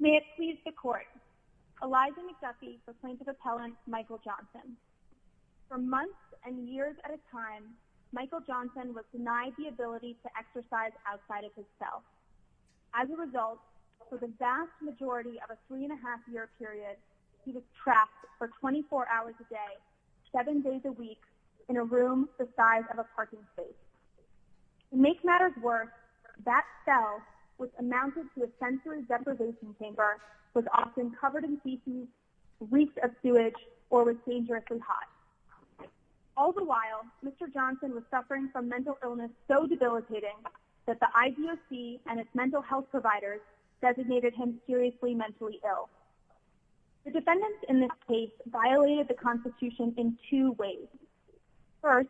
May it please the Court, Eliza McDuffie proclaims of appellant Michael Johnson. For months and years at a time, Michael Johnson was denied the ability to exercise outside of himself. As a result, for the vast majority of a three-and-a-half-year period, he was trapped for 24 hours a day, seven days a week, in a room the size of a parking space. To make matters worse, that cell, which amounted to a sensory deprivation chamber, was often covered in feces, reeked of sewage, or was dangerously hot. All the while, Mr. Johnson was suffering from mental illness so debilitating that the IBOC and its mental health providers designated him seriously mentally ill. The defendants in this case violated the Constitution in two ways. First,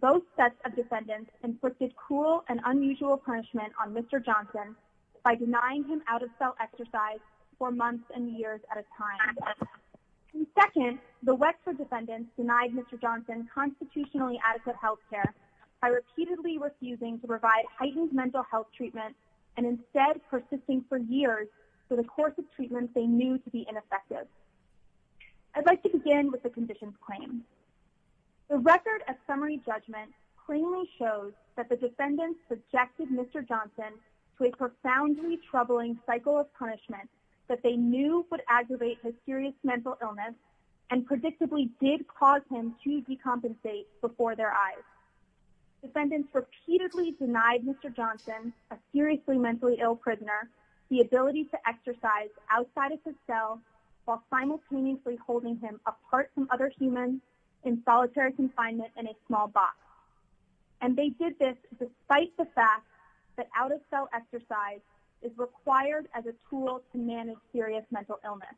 both sets of defendants inflicted cruel and unusual punishment on Mr. Johnson by denying him out-of-cell exercise for months and years at a time. Second, the Wexford defendants denied Mr. Johnson constitutionally adequate health care by repeatedly refusing to provide heightened mental health treatment and instead persisting for years for the course of treatment they knew to be ineffective. I'd like to begin with the conditions claimed. The record of summary judgment plainly shows that the defendants subjected Mr. Johnson to a profoundly troubling cycle of punishment that they knew would aggravate his serious mental illness and predictably did cause him to decompensate before their eyes. Defendants repeatedly denied Mr. Johnson, a seriously mentally ill prisoner, the ability to exercise outside of his cell while simultaneously holding him apart from other humans in solitary confinement in a small box. And they did this despite the fact that out-of-cell exercise is required as a tool to manage serious mental illness.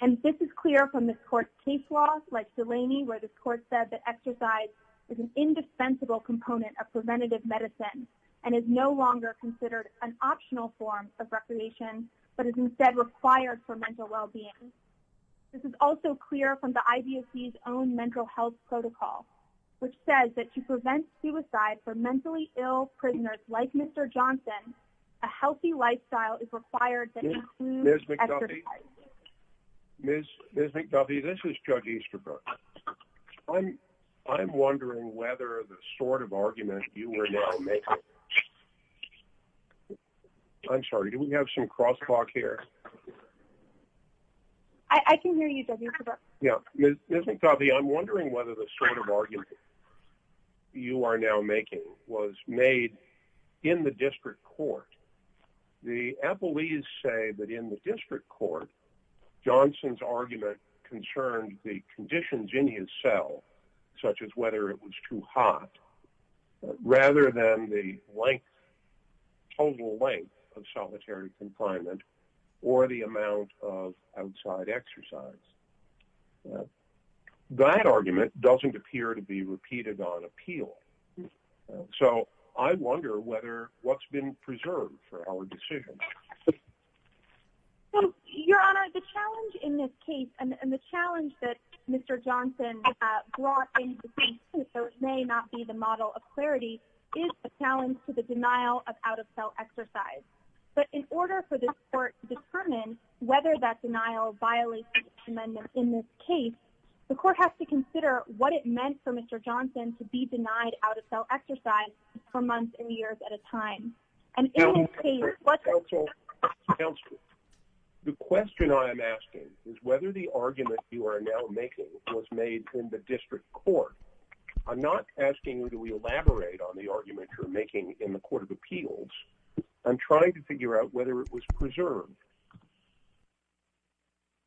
And this is clear from this court's case law, like Delaney, where this court said that exercise is an indispensable component of preventative medicine and is no longer considered an optional form of recreation but is instead required for mental well-being. This is also clear from the IBOC's own mental health protocol, which says that to prevent suicide for mentally ill prisoners like Mr. Johnson, a healthy lifestyle is required to include exercise. Ms. McDuffie, this is Judge Easterbrook. I'm wondering whether the sort of argument you are now making... I'm sorry, do we have some cross-talk here? I can hear you, Judge Easterbrook. Yeah. Ms. McDuffie, I'm wondering whether the sort of argument you are now making was made in the district court. The appellees say that in the district court, Johnson's argument concerned the conditions in his cell, such as whether it was too hot, rather than the length, total length of solitary confinement or the amount of outside exercise. That argument doesn't appear to be repeated on appeal. So, I wonder what's been preserved for our decision. Your Honor, the challenge in this case and the challenge that Mr. Johnson brought into the case, though it may not be the model of clarity, is the challenge to the denial of out-of-cell exercise. But in order for this court to determine whether that denial violates the amendment in this case, it has to be out-of-cell exercise for months and years at a time. And in this case... Counsel, counsel, the question I am asking is whether the argument you are now making was made in the district court. I'm not asking you to elaborate on the argument you're making in the court of appeals. I'm trying to figure out whether it was preserved.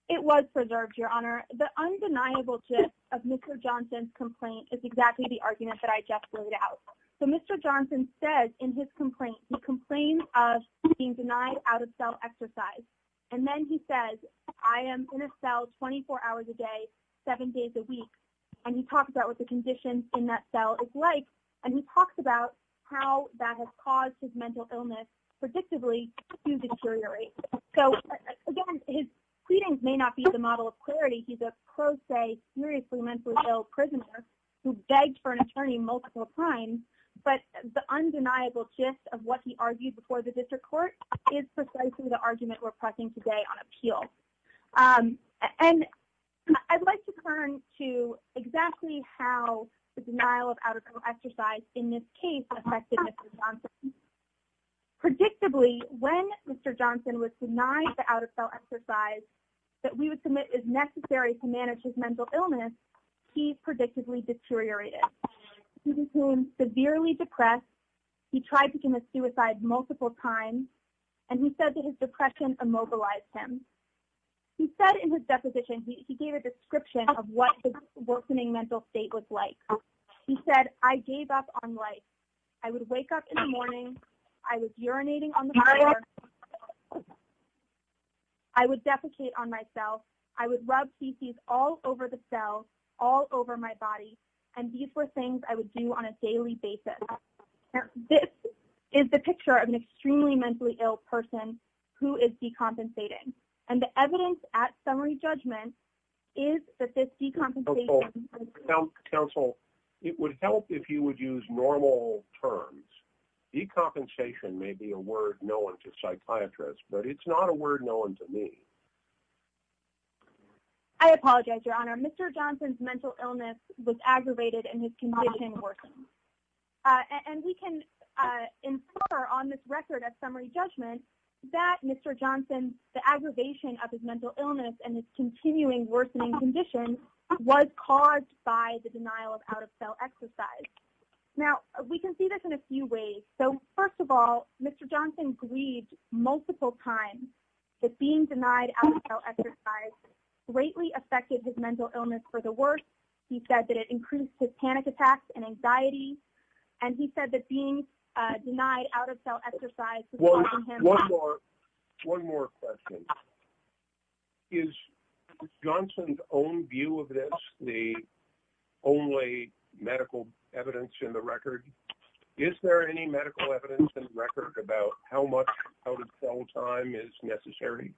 It was preserved, Your Honor. The undeniable gist of Mr. Johnson's complaint is exactly the argument that I just laid out. So, Mr. Johnson says in his complaint, he complains of being denied out-of-cell exercise. And then he says, I am in a cell 24 hours a day, seven days a week. And he talks about what the condition in that cell is like. And he talks about how that has caused his mental illness, predictably, to deteriorate. So, again, his pleadings may not be the model of clarity. He's a pro se, seriously mentally ill prisoner who begged for an attorney multiple times. But the undeniable gist of what he argued before the district court is precisely the argument we're pressing today on appeals. And I'd like to turn to exactly how the denial of out-of-cell exercise in this case affected Mr. Johnson. Predictably, when Mr. Johnson was denied the out-of-cell exercise that we would submit is necessary to manage his mental illness, he predictably deteriorated. He was severely depressed. He tried to commit suicide multiple times. And he said that his depression immobilized him. He said in his deposition, he gave a description of what the worsening mental state was like. He said, I gave up on life. I would wake up in the morning. I was urinating on the floor. I would defecate on myself. I would rub feces all over the cell, all over my body. And these were things I would do on a daily basis. This is the picture of an extremely mentally ill person who is decompensating. And the evidence at summary judgment is that this decompensation... Decompensation may be a word known to psychiatrists, but it's not a word known to me. I apologize, Your Honor. Mr. Johnson's mental illness was aggravated and his condition worsened. And we can infer on this record at summary judgment that Mr. Johnson, the aggravation of his mental illness and his continuing worsening condition was caused by the denial of out-of-cell exercise. Now, we can see this in a few ways. So, first of all, Mr. Johnson grieved multiple times that being denied out-of-cell exercise greatly affected his mental illness for the worse. He said that it increased his panic attacks and anxiety. And he said that being denied out-of-cell exercise... evidence in the record. Is there any medical evidence in the record about how much out-of-cell time is necessary?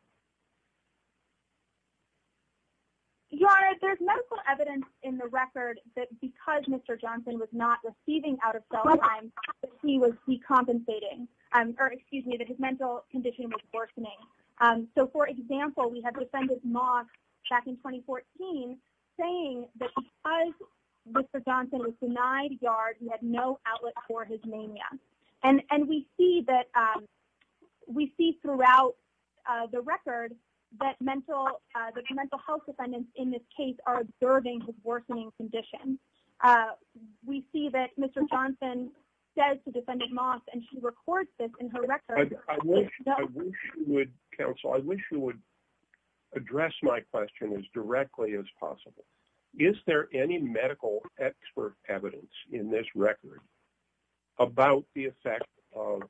Your Honor, there's medical evidence in the record that because Mr. Johnson was not receiving out-of-cell time, that he was decompensating. Or, excuse me, that his mental condition was worsening. So, for example, we have defendant Moss back in 2014 saying that because Mr. Johnson was denied yards, he had no outlet for his mania. And we see throughout the record that mental health defendants in this case are observing his worsening condition. We see that Mr. Johnson says to defendant Moss, and she records this in her record... Counsel, I wish you would address my question as directly as possible. Is there any medical expert evidence in this record about the effect of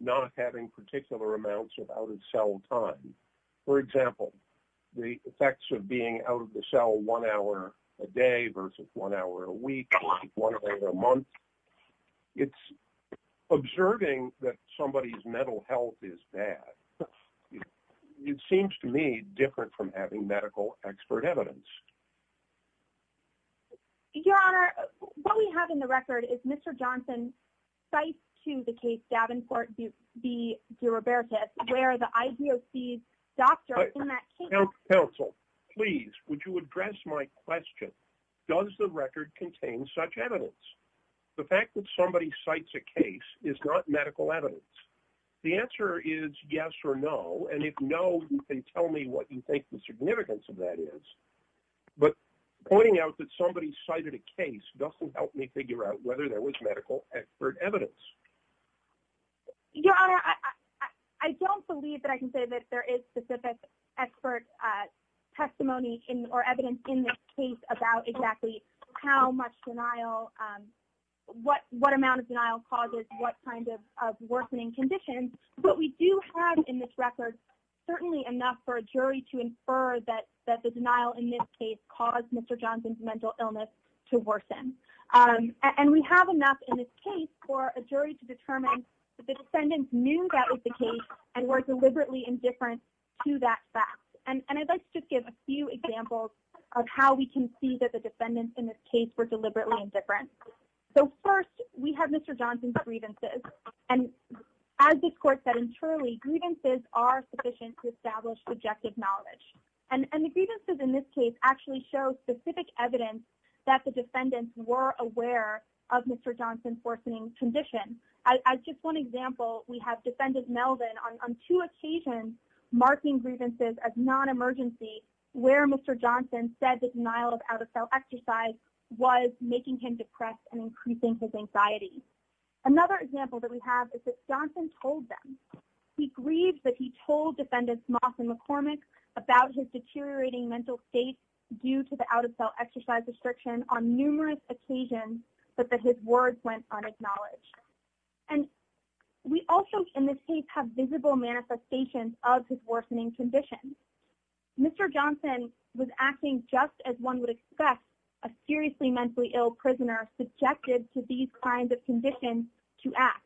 not having particular amounts of out-of-cell time? For example, the effects of being out-of-the-cell one hour a day versus one hour a week, one day a month. It's observing that somebody's mental health is bad. It seems to me different from having medical expert evidence. Your Honor, what we have in the record is Mr. Johnson's cite to the case Davenport v. DiRoberto where the IBOC doctor in that case... Counsel, please, would you address my question? Does the record contain such evidence? The fact that somebody cites a case is not medical evidence. The answer is yes or no, and if no, you can tell me what you think the significance of that is. But pointing out that somebody cited a case doesn't help me figure out whether there was medical expert evidence. Your Honor, I don't believe that I can say that there is specific expert testimony or evidence in this case about exactly how much denial, what amount of denial causes what kind of worsening conditions. But we do have in this record certainly enough for a jury to infer that the denial in this case caused Mr. Johnson's mental illness to worsen. And we have enough in this case for a jury to determine that the defendants knew that was the case and were deliberately indifferent to that fact. And I'd like to give a few examples of how we can see that the defendants in this case were deliberately indifferent. So first, we have Mr. Johnson's grievances. And as this Court said internally, grievances are sufficient to establish subjective knowledge. And the grievances in this case actually show specific evidence that the defendants were aware of Mr. Johnson's worsening condition. As just one example, we have Defendant Melvin on two occasions marking grievances as non-emergency where Mr. Johnson said that denial of out-of-cell exercise was making him depressed and increasing his anxiety. Another example that we have is that Johnson told them. He grieved that he told Defendants Moss and McCormick about his deteriorating mental state due to the out-of-cell exercise restriction on numerous occasions but that his words went unacknowledged. And we also in this case have visible manifestations of his worsening condition. Mr. Johnson was acting just as one would expect a seriously mentally ill prisoner subjected to these kinds of conditions to act.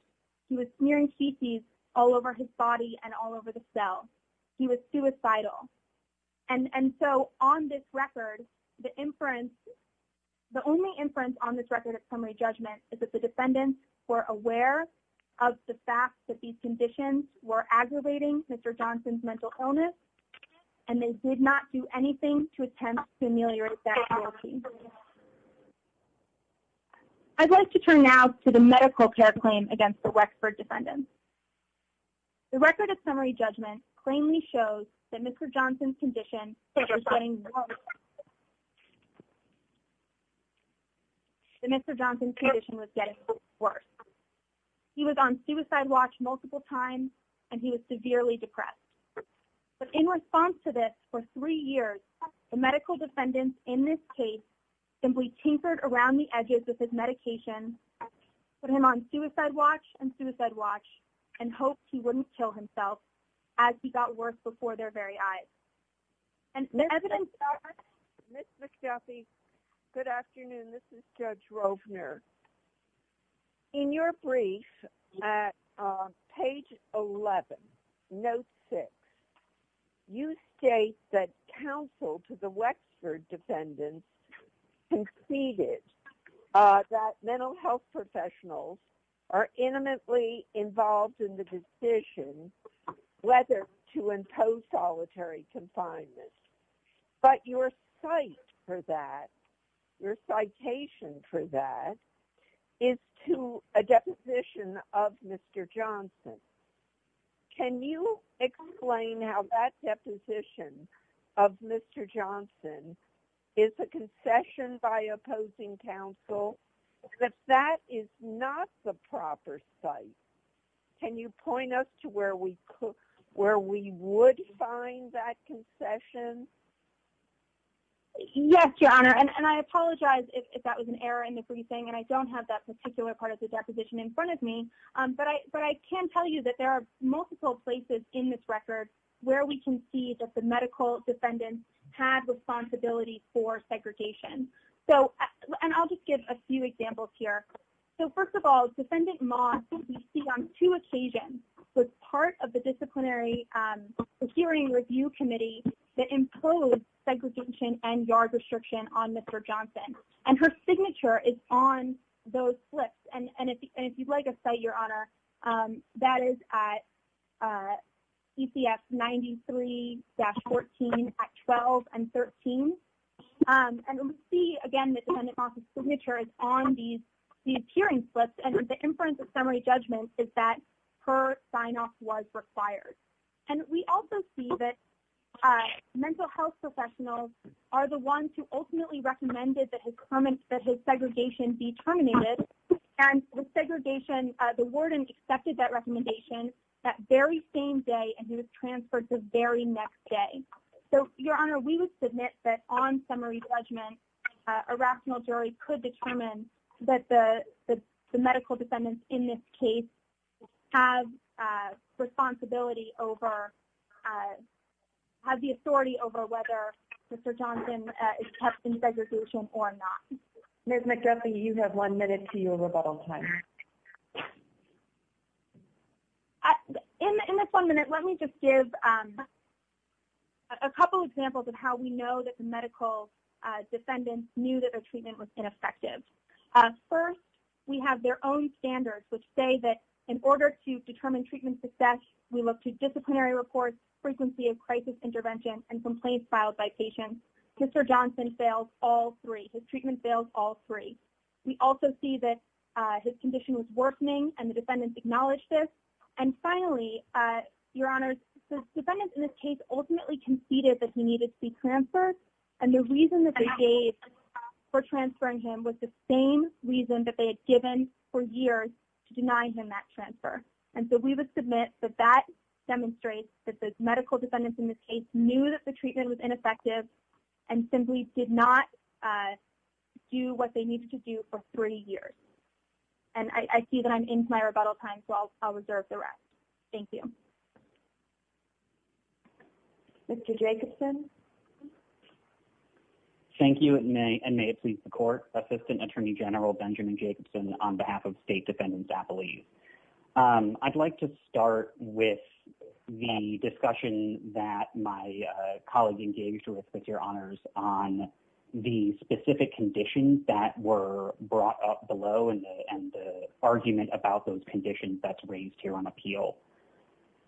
He was smearing feces all over his body and all over the cell. He was suicidal. And so on this record, the inference, the only inference on this record of summary judgment is that the defendants were aware of the fact that these conditions were aggravating Mr. Johnson's mental illness and they did not do anything to attempt to ameliorate that reality. I'd like to turn now to the medical care claim against the Wexford defendants. The record of summary judgment plainly shows that Mr. Johnson's condition was getting worse. That Mr. Johnson's condition was getting worse. He was on suicide watch multiple times and he was severely depressed. But in response to this, for three years, the medical defendants in this case simply tinkered around the edges with his medication, put him on suicide watch and suicide watch and hoped he wouldn't kill himself as he got worse before their very eyes. Ms. McSethy, good afternoon. This is Judge Rovner. In your brief at page 11, note 6, you state that counsel to the Wexford defendants conceded that mental health professionals are intimately involved in the decision whether to impose solitary confinement. But your site for that, your citation for that, is to a deposition of Mr. Johnson. Can you explain how that deposition of Mr. Johnson is a concession by opposing counsel? If that is not the proper site, can you point us to where we would find that concession Yes, Your Honor. And I apologize if that was an error in the briefing and I don't have that particular part of the deposition in front of me. But I can tell you that there are multiple places in this record where we can see that the medical defendants had responsibility for segregation. And I'll just give a few examples here. So first of all, Defendant Moss, you see on two occasions, was part of the disciplinary hearing review committee that imposed segregation and yard restriction on Mr. Johnson. And her signature is on those slips. And if you'd like a cite, Your Honor, that is at ECF 93-14, Act 12 and 13. And we see, again, that Defendant Moss' signature is on these hearing slips. And the inference of summary judgment is that her sign-off was required. And we also see that mental health professionals are the ones who ultimately recommended that his segregation be terminated. And the warden accepted that recommendation that very same day and he was transferred the very next day. So, Your Honor, we would submit that on summary judgment, a rational jury could determine that the medical defendants in this case have responsibility over, have the authority over whether Mr. Johnson is kept in segregation or not. Ms. McDuffie, you have one minute to your rebuttal time. In this one minute, let me just give a couple examples of how we know that the medical defendants knew that their treatment was ineffective. First, we have their own standards which say that in order to determine treatment success, we look to disciplinary reports, frequency of crisis intervention, and complaints filed by patients. Mr. Johnson failed all three. His treatment failed all three. We also see that his condition was worsening and the defendants acknowledged this. And finally, Your Honor, the defendants in this case ultimately conceded that he needed to be transferred and the reason that they gave for transferring him was the same reason that they had given for years to deny him that transfer. And so we would submit that that demonstrates that the medical defendants in this case knew that the treatment was ineffective and simply did not do what they needed to do for three years. And I see that I'm into my rebuttal time, so I'll reserve the rest. Thank you. Mr. Jacobson. Thank you, and may it please the court. Assistant Attorney General Benjamin Jacobson on behalf of State Defendants Appellees. I'd like to start with the discussion that my colleague engaged with, Your Honors, on the specific conditions that were brought up below and the argument about those conditions that's raised here on appeal.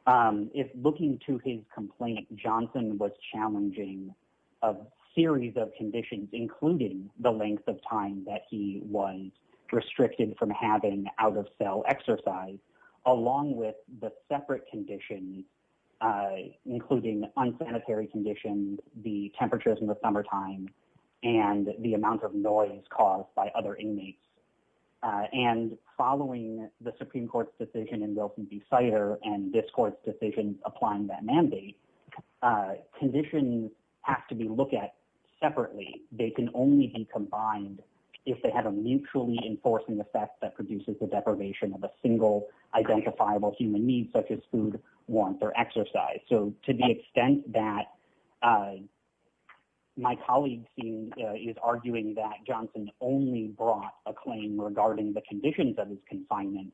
If looking to his complaint, Johnson was challenging a series of conditions, including the length of time that he was restricted from having out-of-cell exercise, along with the separate conditions, including unsanitary conditions, the temperatures in the summertime, and the amount of noise caused by other inmates. And following the Supreme Court's decision in Wilson v. Sider and this court's decision applying that mandate, conditions have to be looked at separately. They can only be combined if they have a mutually enforcing effect that produces the deprivation of a single identifiable human need, such as food, warmth, or exercise. So to the extent that my colleague is arguing that Johnson only brought a claim regarding the conditions of his confinement,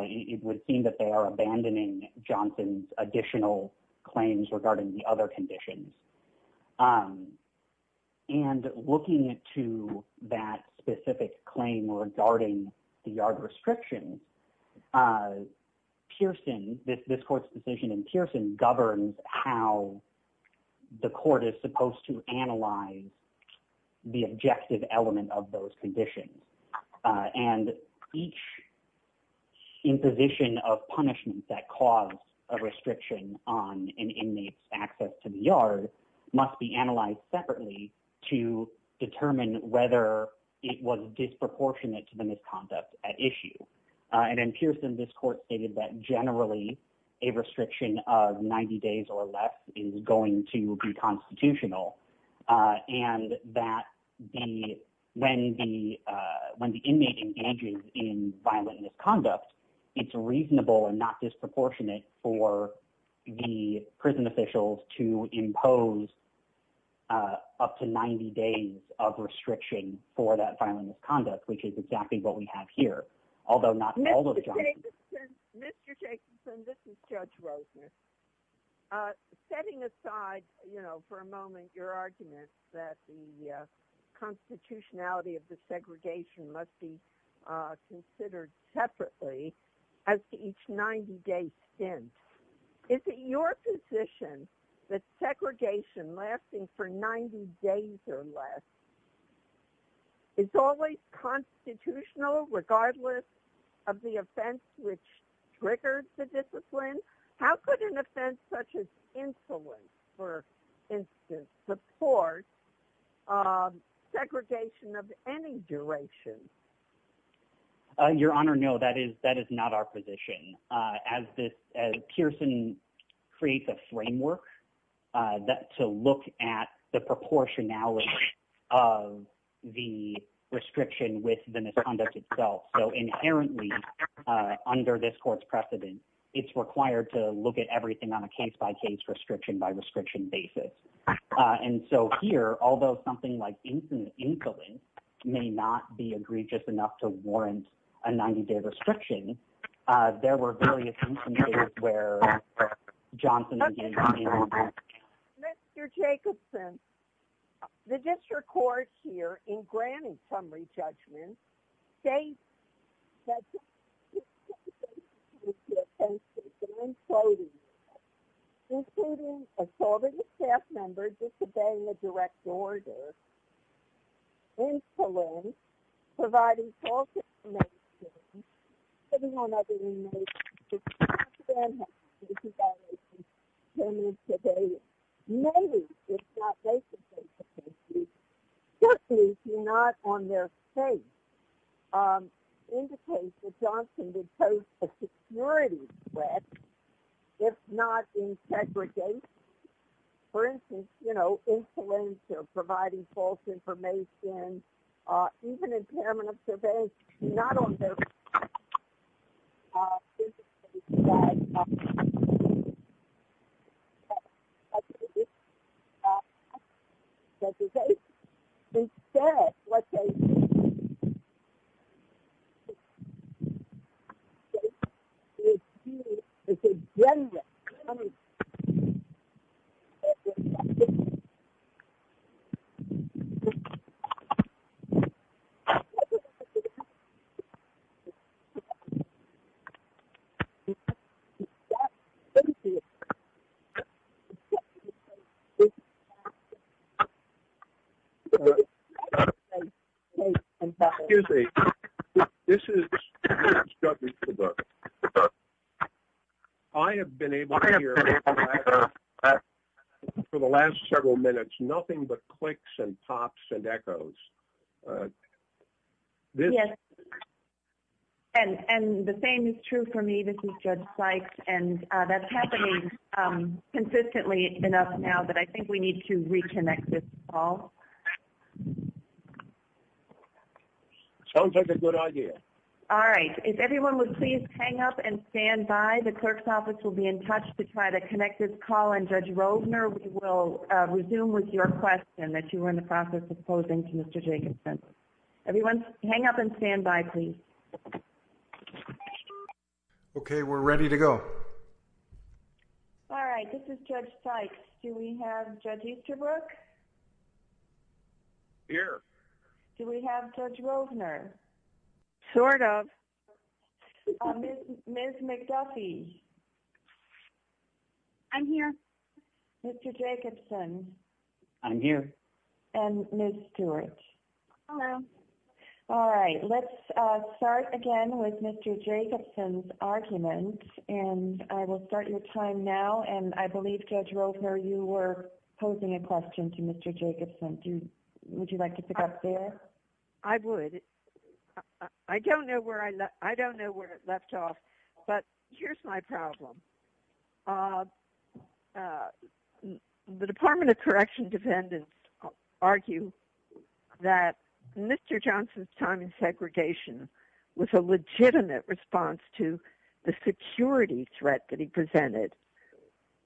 it would seem that they are abandoning Johnson's additional claims regarding the other conditions. And looking to that specific claim regarding the yard restriction, Pearson, this court's decision in Pearson governs how the court is supposed to analyze the objective element of those conditions. And each imposition of punishment that caused a restriction on an inmate's access to the yard must be analyzed separately to determine whether it was disproportionate to the misconduct at issue. And in Pearson, this court stated that generally a restriction of 90 days or less is going to be constitutional, and that when the inmate engages in violent misconduct, it's reasonable and not disproportionate for the prison officials to impose up to 90 days of restriction for that violent misconduct, which is exactly what we have here, although not all of Johnson. Mr. Jacobson, this is Judge Rosner. Setting aside, you know, for a moment, your argument that the constitutionality of the segregation must be considered separately as to each 90-day stint, is it your position that segregation lasting for 90 days or less is always constitutional regardless of the offense which triggers the discipline? How could an offense such as insolence, for instance, support segregation of any duration? Your Honor, no, that is not our position. As Pearson creates a framework to look at the proportionality of the restriction with the misconduct itself, so inherently under this court's precedent, it's required to look at everything on a case-by-case, restriction-by-restriction basis. And so here, although something like insolence may not be egregious enough to warrant a 90-day restriction, there were various instances where Johnson... Okay. Mr. Jacobson, the district court here, in granting summary judgments, states that... ...insolence, including assaulting a staff member disobeying a direct order, insolence, providing false information, putting on other inmates... ...may be, if not they should be, just as you're not on their case, indicates that Johnson did pose a security threat, if not in segregation. For instance, you know, insolence or providing false information, even impairment of surveillance, if not on their case, indicates that Johnson did pose a security threat. ...that he said what they... ...said it would be a general punishment... ...that he said it would be a general punishment... Excuse me. This is... I have been able to hear for the last several minutes nothing but clicks and pops and echoes. Yes. And the same is true for me. This is Judge Sykes. And that's happening consistently enough now that I think we need to reconnect this call. Sounds like a good idea. All right. If everyone would please hang up and stand by. The clerk's office will be in touch to try to connect this call. And Judge Rovner, we will resume with your question that you were in the process of posing to Mr. Jacobson. Everyone hang up and stand by, please. Okay. We're ready to go. All right. This is Judge Sykes. Do we have Judge Easterbrook? Here. Do we have Judge Rovner? Sort of. Ms. McDuffie? I'm here. Mr. Jacobson? I'm here. And Ms. Stewart? Hello. All right. Let's start again with Mr. Jacobson's argument. And I will start your time now. And I believe, Judge Rovner, you were posing a question to Mr. Jacobson. Would you like to pick up there? I would. I don't know where it left off. But here's my problem. The Department of Corrections defendants argue that Mr. Jacobson's time in segregation was a legitimate response to the security threat that he presented.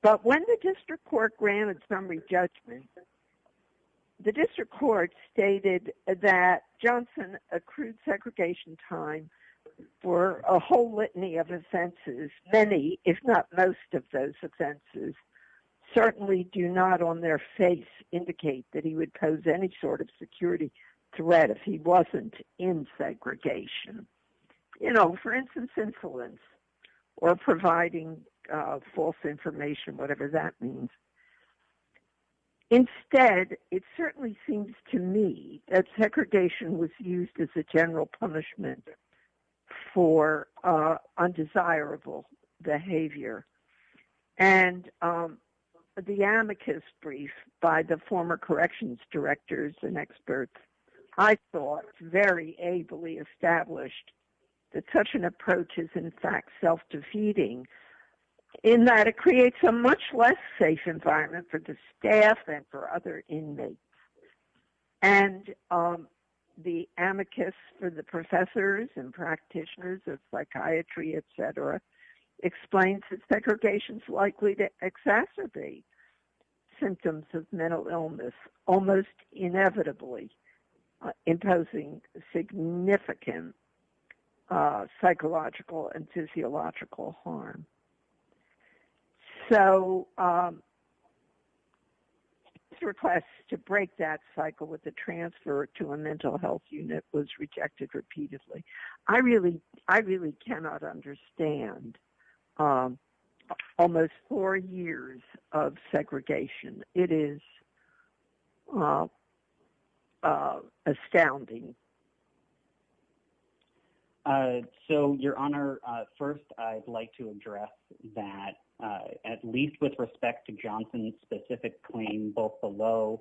But when the district court granted summary judgment, the district court stated that Jacobson accrued segregation time for a whole litany of offenses. Many, if not most of those offenses, certainly do not on their face indicate that he would pose any sort of security threat if he wasn't in segregation. You know, for instance, insolence or providing false information, whatever that means. Instead, it certainly seems to me that segregation was used as a general punishment for undesirable behavior. And the amicus brief by the former corrections directors and experts, I thought, very ably established that such an approach is in fact self-defeating in that it creates a much less safe environment for the staff and for other inmates. And the amicus for the professors and practitioners of psychiatry, et cetera, explains that segregation is likely to exacerbate symptoms of mental illness, almost inevitably imposing significant psychological and physiological harm. So the request to break that cycle with the transfer to a mental health unit was rejected repeatedly. I really I really cannot understand almost four years of segregation. It is astounding. So, Your Honor, first, I'd like to address that, at least with respect to Johnson's specific claim, both below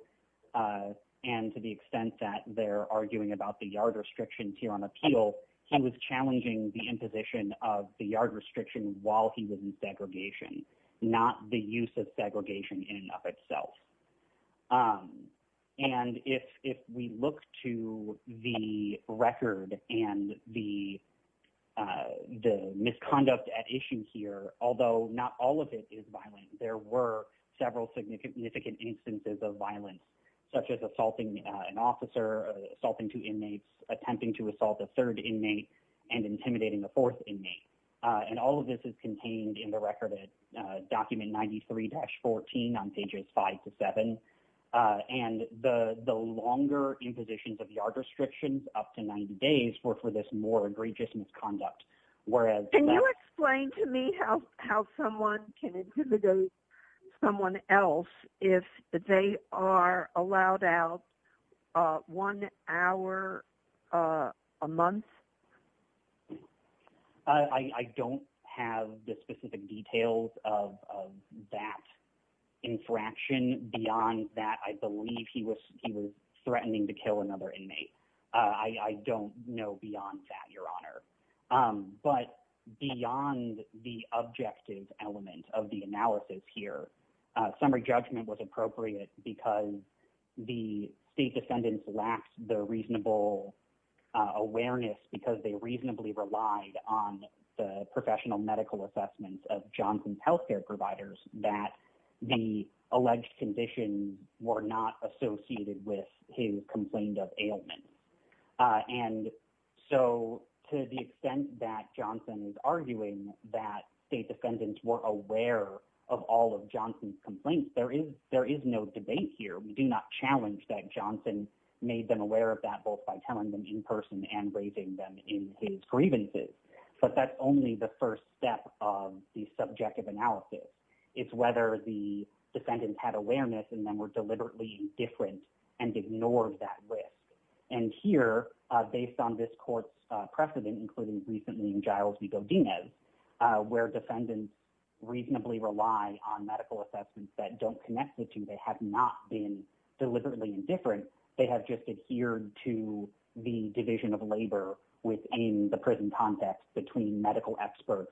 and to the extent that they're arguing about the yard restrictions here on appeal. He was challenging the imposition of the yard restriction while he was in segregation, not the use of segregation in and of itself. And if we look to the record and the misconduct at issue here, although not all of it is violent, there were several significant instances of violence, such as assaulting an officer, assaulting two inmates, attempting to assault a third inmate, and intimidating a fourth inmate. And all of this is contained in the record document 93-14 on pages 5 to 7. And the longer impositions of yard restrictions, up to 90 days, were for this more egregious misconduct. Can you explain to me how someone can intimidate someone else if they are allowed out one hour a month? I don't have the specific details of that infraction. Beyond that, I believe he was threatening to kill another inmate. I don't know beyond that, Your Honor. But beyond the objective element of the analysis here, summary judgment was appropriate because the state defendants lacked the reasonable awareness because they reasonably relied on the professional medical assessments of Johnson's health care providers that the alleged condition were not associated with his complaint of ailment. And so to the extent that Johnson is arguing that state defendants were aware of all of Johnson's complaints, there is no debate here. We do not challenge that Johnson made them aware of that both by telling them in person and raising them in his grievances. But that's only the first step of the subjective analysis. It's whether the defendants had awareness and then were deliberately indifferent and ignored that risk. And here, based on this court's precedent, including recently in Giles V. Godinez, where defendants reasonably rely on medical assessments that don't connect the two, they have not been deliberately indifferent. They have just adhered to the division of labor within the prison context between medical experts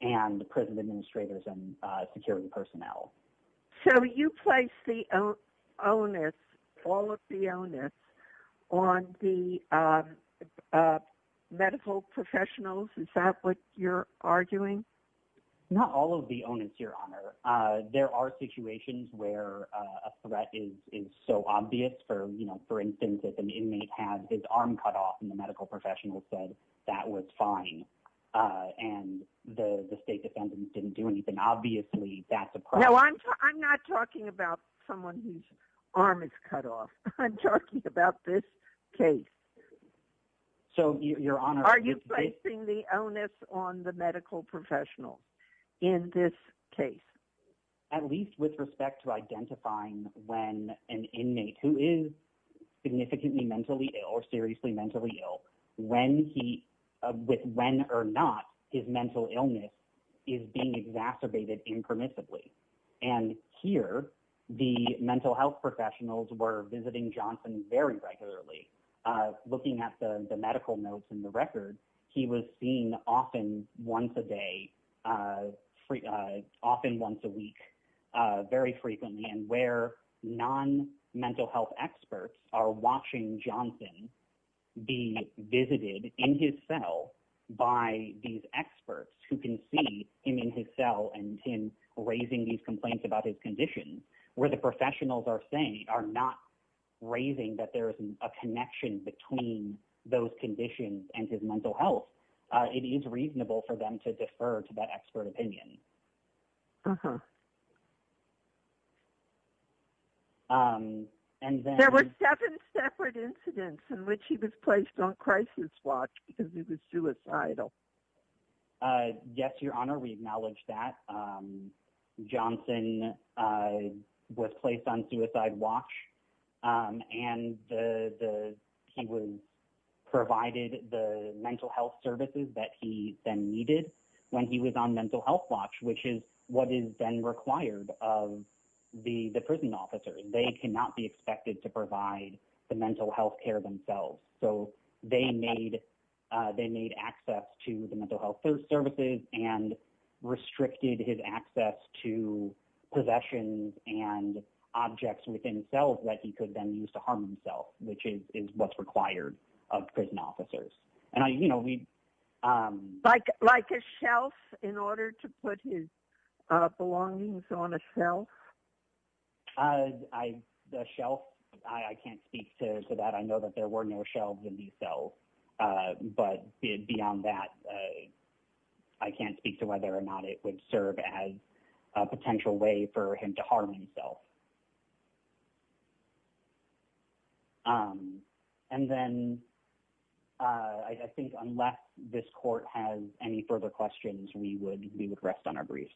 and prison administrators and security personnel. So you place the onus, all of the onus, on the medical professionals? Is that what you're arguing? Not all of the onus, Your Honor. There are situations where a threat is so obvious. For instance, if an inmate had his arm cut off and the medical professional said that was fine and the state defendants didn't do anything, obviously that's a crime. No, I'm not talking about someone whose arm is cut off. I'm talking about this case. So, Your Honor. Are you placing the onus on the medical professional in this case? At least with respect to identifying when an inmate who is significantly mentally ill or seriously mentally ill, when or not his mental illness is being exacerbated impermissibly. And here, the mental health professionals were visiting Johnson very regularly. Looking at the medical notes in the record, he was seen often once a day, often once a And he would often be visited in his cell by these experts who can see him in his cell and him raising these complaints about his condition. Where the professionals are saying, are not raising that there is a connection between those conditions and his mental health, it is reasonable for them to defer to that expert opinion. There were seven separate incidents in which he was placed on crisis watch because he was suicidal. Yes, Your Honor, we acknowledge that. Johnson was placed on suicide watch and he was provided the mental health services that he then needed when he was on mental health watch, which is what is then required of the prison officers. They cannot be expected to provide the mental health care themselves. So, they made access to the mental health services and restricted his access to possessions and objects within cells that he could then use to harm himself, which is what's required of prison officers. Like a shelf in order to put his belongings on a shelf? The shelf, I can't speak to that. I know that there were no shelves in these cells. But beyond that, I can't speak to whether or not it would serve as a potential way for him to harm himself. And then, I think unless this court has any further questions, we would rest on our briefs.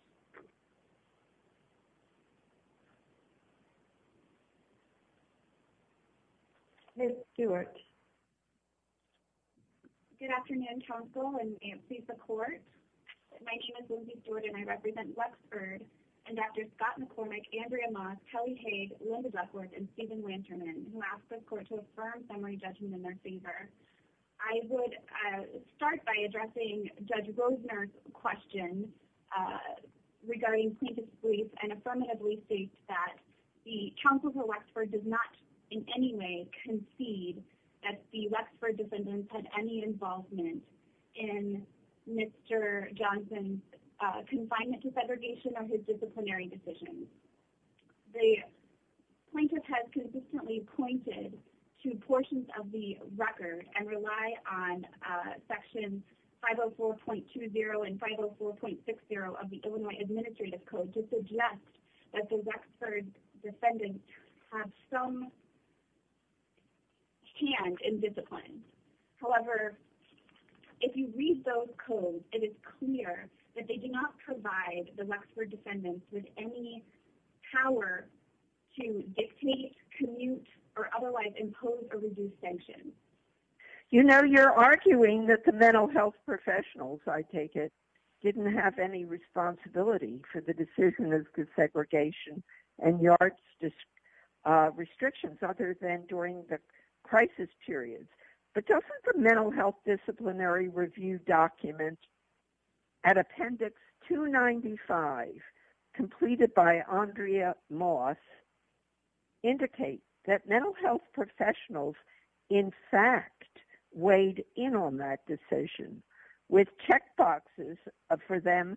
Good afternoon, counsel and briefs of court. My name is Lindsay Steward and I represent Wexford and Drs. Scott McCormick, Andrea Moss, Kelly Haag, Linda Duckworth, and Stephen Lanterman, who ask this court to affirm summary judgment in their favor. I would start by addressing Judge Rosener's question regarding plaintiff's brief and affirmatively state that the counsel for Wexford does not in any way concede that the Wexford defendants had any involvement in Mr. Johnson's confinement to segregation or his disciplinary decisions. The plaintiff has consistently pointed to portions of the record and rely on sections 504.20 and 504.60 of the Illinois Administrative Code to suggest that the Wexford defendants have some hand in discipline. However, if you read those codes, it is clear that they do not provide the Wexford defendants with any power to dictate, commute, or otherwise impose or reduce sanctions. You know, you're arguing that the mental health professionals, I take it, didn't have any responsibility for the decision of segregation and yards restrictions other than during the crisis periods. But doesn't the Mental Health Disciplinary Review document at Appendix 295 completed by Andrea Moss indicate that mental health professionals in fact weighed in on that decision with checkboxes for them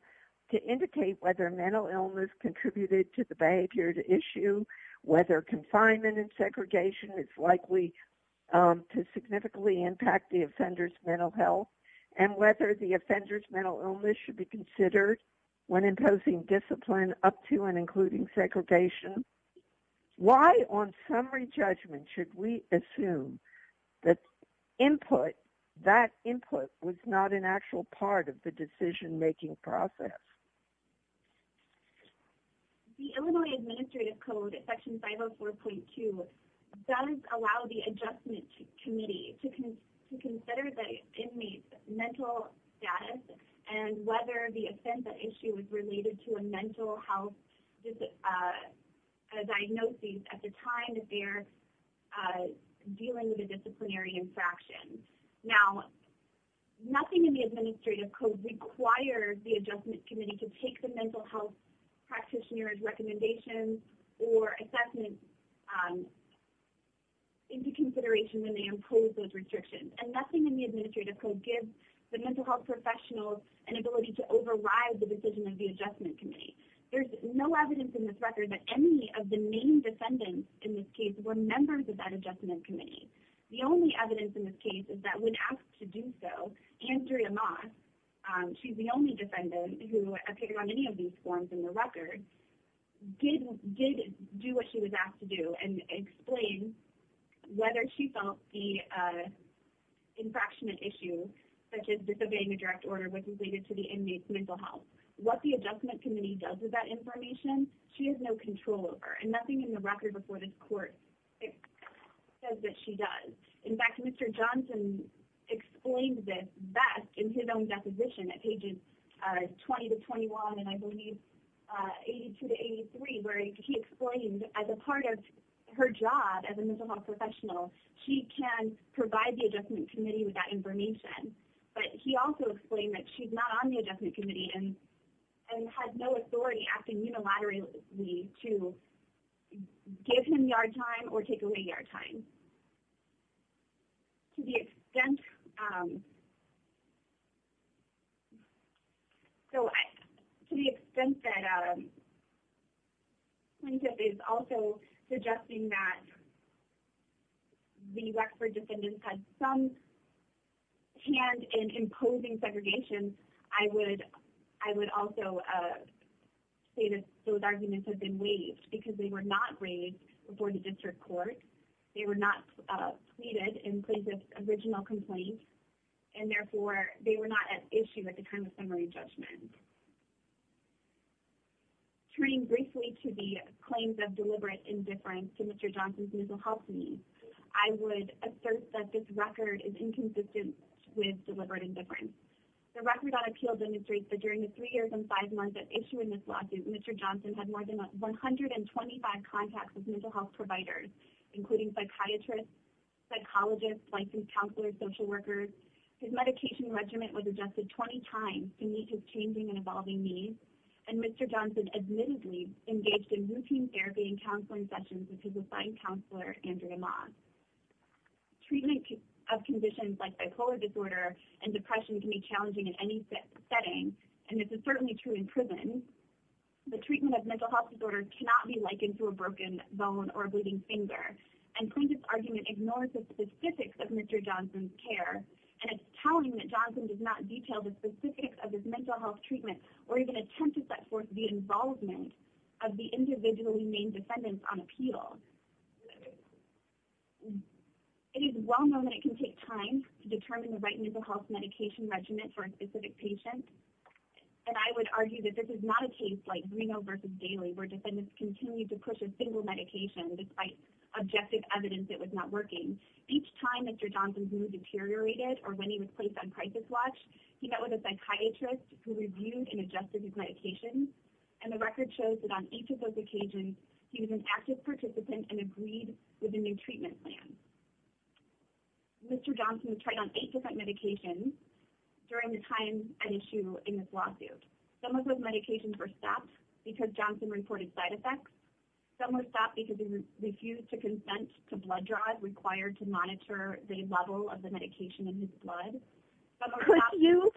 to indicate whether mental illness contributed to the behavior at issue, whether confinement and segregation is likely to significantly impact the offender's mental health, and whether the offender's mental illness should be considered when imposing discipline up to and including segregation? Why, on summary judgment, should we assume that input, that input, was not an actual part of the decision-making process? The Illinois Administrative Code, Section 504.2, does allow the Adjustment Committee to consider the inmate's mental status and whether the offender issue is related to a mental health diagnosis at the time that they're dealing with a disciplinary infraction. Now, nothing in the Administrative Code requires the Adjustment Committee to take the mental health practitioners' recommendations or assessments into consideration when they impose those restrictions. And nothing in the Administrative Code gives the mental health professionals an ability to override the decision of the Adjustment Committee. There's no evidence in this record that any of the main defendants in this case were members of that Adjustment Committee. The only evidence in this case is that when asked to do so, Andrea Moss, she's the only defendant who appeared on any of these forms in the record, did do what she was asked to do and explain whether she felt the infraction issue such as disobeying a direct order was related to the inmate's mental health. What the Adjustment Committee does with that information, she has no control over. And nothing in the record before this court says that she does. In fact, Mr. Johnson explains this best in his own deposition at pages 20-21 and I believe 82-83 where he explains as a part of her job as a mental health professional, she can provide the Adjustment Committee with that information. But he also explained that she's not on the Adjustment Committee and has no authority acting unilaterally to give him yard time or take away yard time. To the extent that plaintiff is also suggesting that the Wexford defendants had some hand in imposing segregation, I would also say that those arguments have been waived because they were not raised before the district court. They were not pleaded in plaintiff's original complaint and therefore they were not at issue at the time of summary judgment. Turning briefly to the claims of deliberate indifference to Mr. Johnson's mental health needs, I would assert that this record is inconsistent with deliberate indifference. The record on appeal demonstrates that during the three years and five months at issue in this lawsuit, Mr. Johnson had more than 125 contacts with mental health providers, including psychiatrists, psychologists, licensed counselors, social workers. His medication regimen was adjusted 20 times to meet his changing and evolving needs. And Mr. Johnson admittedly engaged in routine therapy and counseling sessions with his assigned counselor, Andrea Moss. Treatment of conditions like bipolar disorder and depression can be challenging in any setting. And this is certainly true in prison. The treatment of mental health disorders cannot be likened to a broken bone or a bleeding finger. And plaintiff's argument ignores the specifics of Mr. Johnson's care. And it's telling that Johnson does not detail the specifics of his mental health treatment or even attempt to set forth the involvement of the individually named defendants on appeal. It is well known that it can take time to determine the right mental health medication regimen for a specific patient. And I would argue that this is not a case like Reno versus Daly, where defendants continue to push a single medication despite objective evidence it was not working. Each time Mr. Johnson's mood deteriorated or when he was placed on crisis watch, he met with a psychiatrist who reviewed and adjusted his medication. And the record shows that on each of those occasions, he was an active participant and agreed with a new treatment plan. Mr. Johnson tried on eight different medications during the time at issue in this lawsuit. Some of those medications were stopped because Johnson reported side effects. Some were stopped because he refused to consent to blood draws required to monitor the level of the medication in his blood. Could you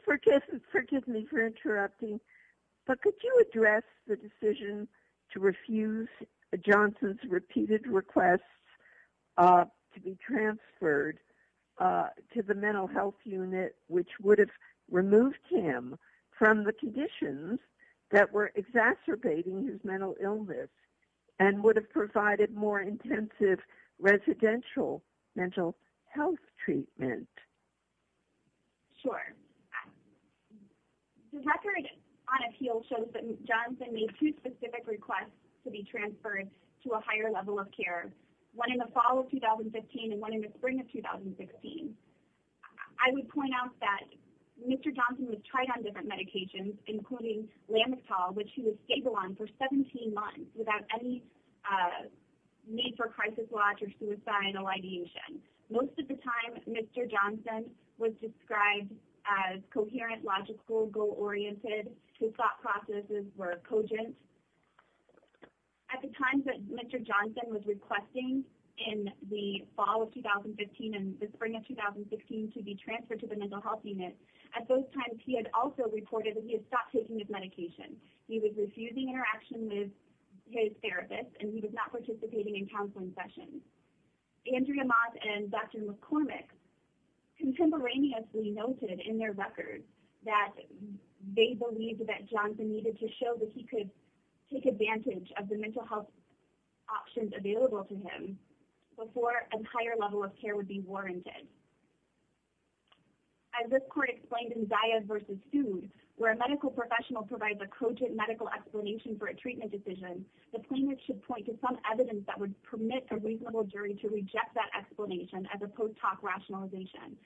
address the decision to refuse Johnson's repeated requests to be transferred to the mental health unit, which would have removed him from the conditions that were exacerbating his mental illness and would have provided more intensive residential mental health treatment? Sure. The record on appeal shows that Johnson made two specific requests to be transferred to a higher level of care, one in the fall of 2015 and one in the spring of 2016. I would point out that Mr. Johnson was tried on different medications, including Lamital, which he was stable on for 17 months without any need for crisis watch or suicidal ideation. Most of the time, Mr. Johnson was described as coherent, logical, goal-oriented. His thought processes were cogent. At the time that Mr. Johnson was requesting in the fall of 2015 and the spring of 2016 to be transferred to the mental health unit, at those times he had also reported that he had stopped taking his medication. He was refusing interaction with his therapist and he was not participating in counseling sessions. Andrea Mott and Dr. McCormick contemporaneously noted in their record that they believed that Johnson needed to show that he could take advantage of the mental health options available to him before a higher level of care would be warranted. As this court explained in Zayas v. Sous, where a medical professional provides a cogent medical explanation for a treatment decision, the plaintiff should point to some evidence that would permit a reasonable jury to reject that explanation as a post hoc rationalization.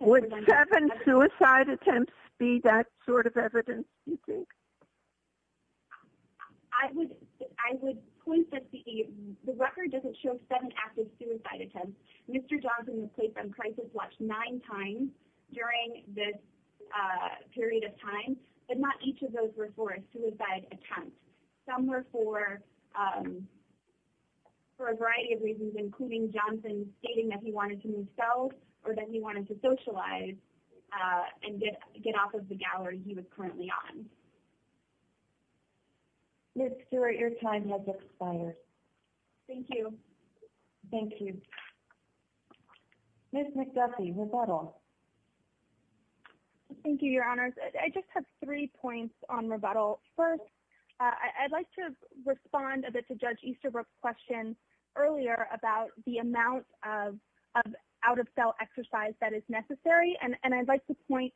Would seven suicide attempts be that sort of evidence, you think? I would point that the record doesn't show seven active suicide attempts. Mr. Johnson was placed on crisis watch nine times during this period of time, but not each of those were for a suicide attempt. Some were for a variety of reasons, including Johnson stating that he wanted to move south or that he wanted to socialize and get off of the gallery he was currently on. Ms. Stewart, your time has expired. Thank you. Thank you. Ms. McDuffie, rebuttal. Thank you, Your Honors. I just have three points on rebuttal. First, I'd like to respond a bit to Judge Easterbrook's question earlier about the amount of out-of-jail exercise that is necessary. And I'd like to point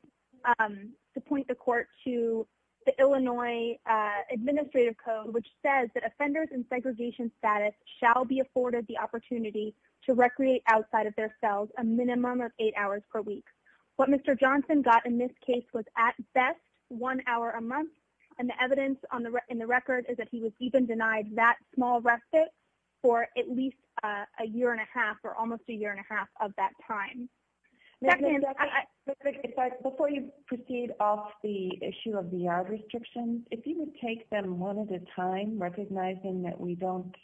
the court to the Illinois Administrative Code, which says that offenders in segregation status shall be afforded the opportunity to recreate outside of their cells a minimum of eight hours per week. What Mr. Johnson got in this case was, at best, one hour a month. And the evidence in the record is that he was even denied that small respite for at least a year and a half or almost a year and a half of that time. Before you proceed off the issue of the yard restrictions, if you would take them one at a time, recognizing that we don't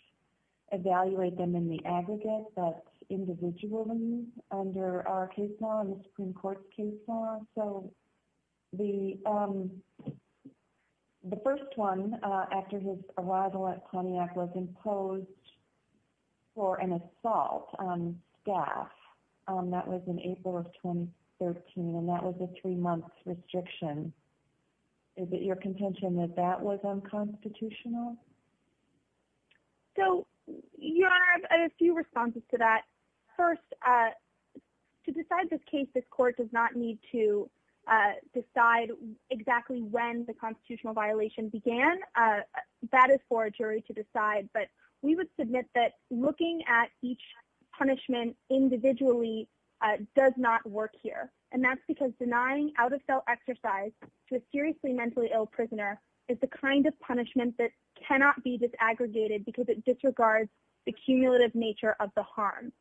evaluate them in the aggregate, but individually under our case law and the Supreme Court's case law. Thank you, Your Honor. So the first one, after his arrival at Pontiac, was imposed for an assault on staff. That was in April of 2013, and that was a three-month restriction. Is it your contention that that was unconstitutional? So, Your Honor, I have a few responses to that. First, to decide this case, this court does not need to decide exactly when the constitutional violation began. That is for a jury to decide. But we would submit that looking at each punishment individually does not work here. And that's because denying out-of-jail exercise to a seriously mentally ill prisoner is the kind of punishment that cannot be disaggregated because it disregards the cumulative nature of the harm.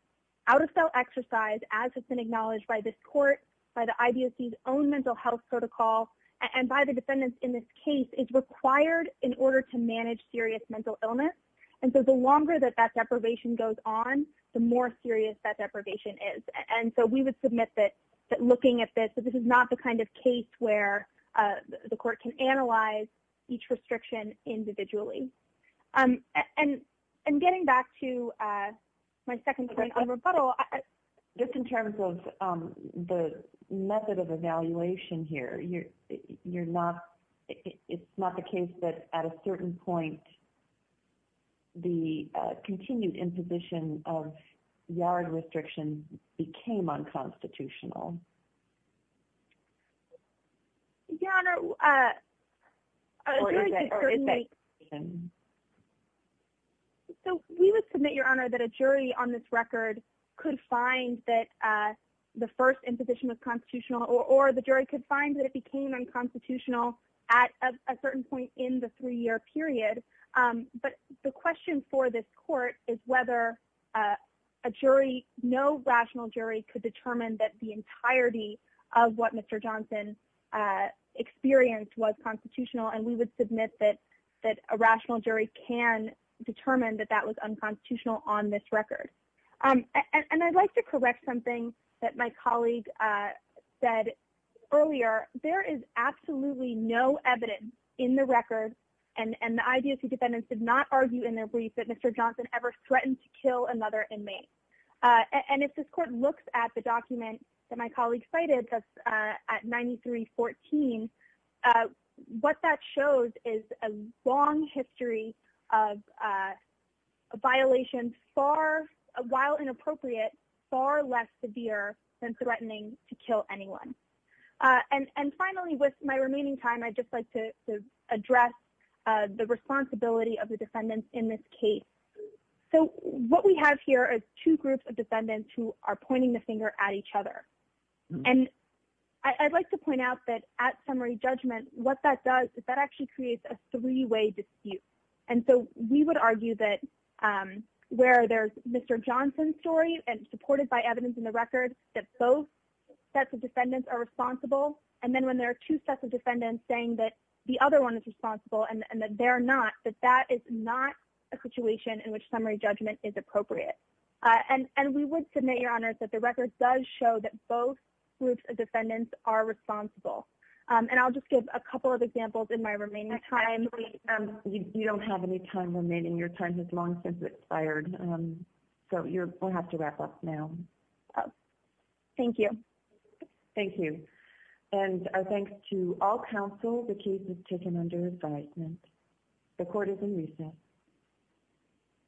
Out-of-jail exercise, as has been acknowledged by this court, by the IBOC's own mental health protocol, and by the defendants in this case, is required in order to manage serious mental illness. And so the longer that that deprivation goes on, the more serious that deprivation is. And so we would submit that looking at this, this is not the kind of case where the court can analyze each restriction individually. And getting back to my second point on rebuttal, just in terms of the method of evaluation here, it's not the case that, at a certain point, the continued imposition of yard restriction became unconstitutional. Your Honor, a jury can certainly… Or is it? So we would submit, Your Honor, that a jury on this record could find that the first imposition was constitutional, or the jury could find that it became unconstitutional at a certain point in the three-year period. But the question for this court is whether a jury, no rational jury, could determine that the entirety of what Mr. Johnson experienced was constitutional. And we would submit that a rational jury can determine that that was unconstitutional on this record. And I'd like to correct something that my colleague said earlier. There is absolutely no evidence in the record, and the IDSC defendants did not argue in their brief, that Mr. Johnson ever threatened to kill another inmate. And if this court looks at the document that my colleague cited, that's at 9314, what that shows is a long history of a violation far, while inappropriate, far less severe than threatening to kill anyone. And finally, with my remaining time, I'd just like to address the responsibility of the defendants in this case. So what we have here is two groups of defendants who are pointing the finger at each other. And I'd like to point out that at summary judgment, what that does is that actually creates a three-way dispute. And so we would argue that where there's Mr. Johnson's story, and supported by evidence in the record, that both sets of defendants are responsible. And then when there are two sets of defendants saying that the other one is responsible and that they're not, that that is not a situation in which summary judgment is appropriate. And we would submit, Your Honors, that the record does show that both groups of defendants are responsible. And I'll just give a couple of examples in my remaining time. Actually, you don't have any time remaining. Your time has long since expired. So you'll have to wrap up now. Thank you. Thank you. And our thanks to all counsel. The case is taken under advisement.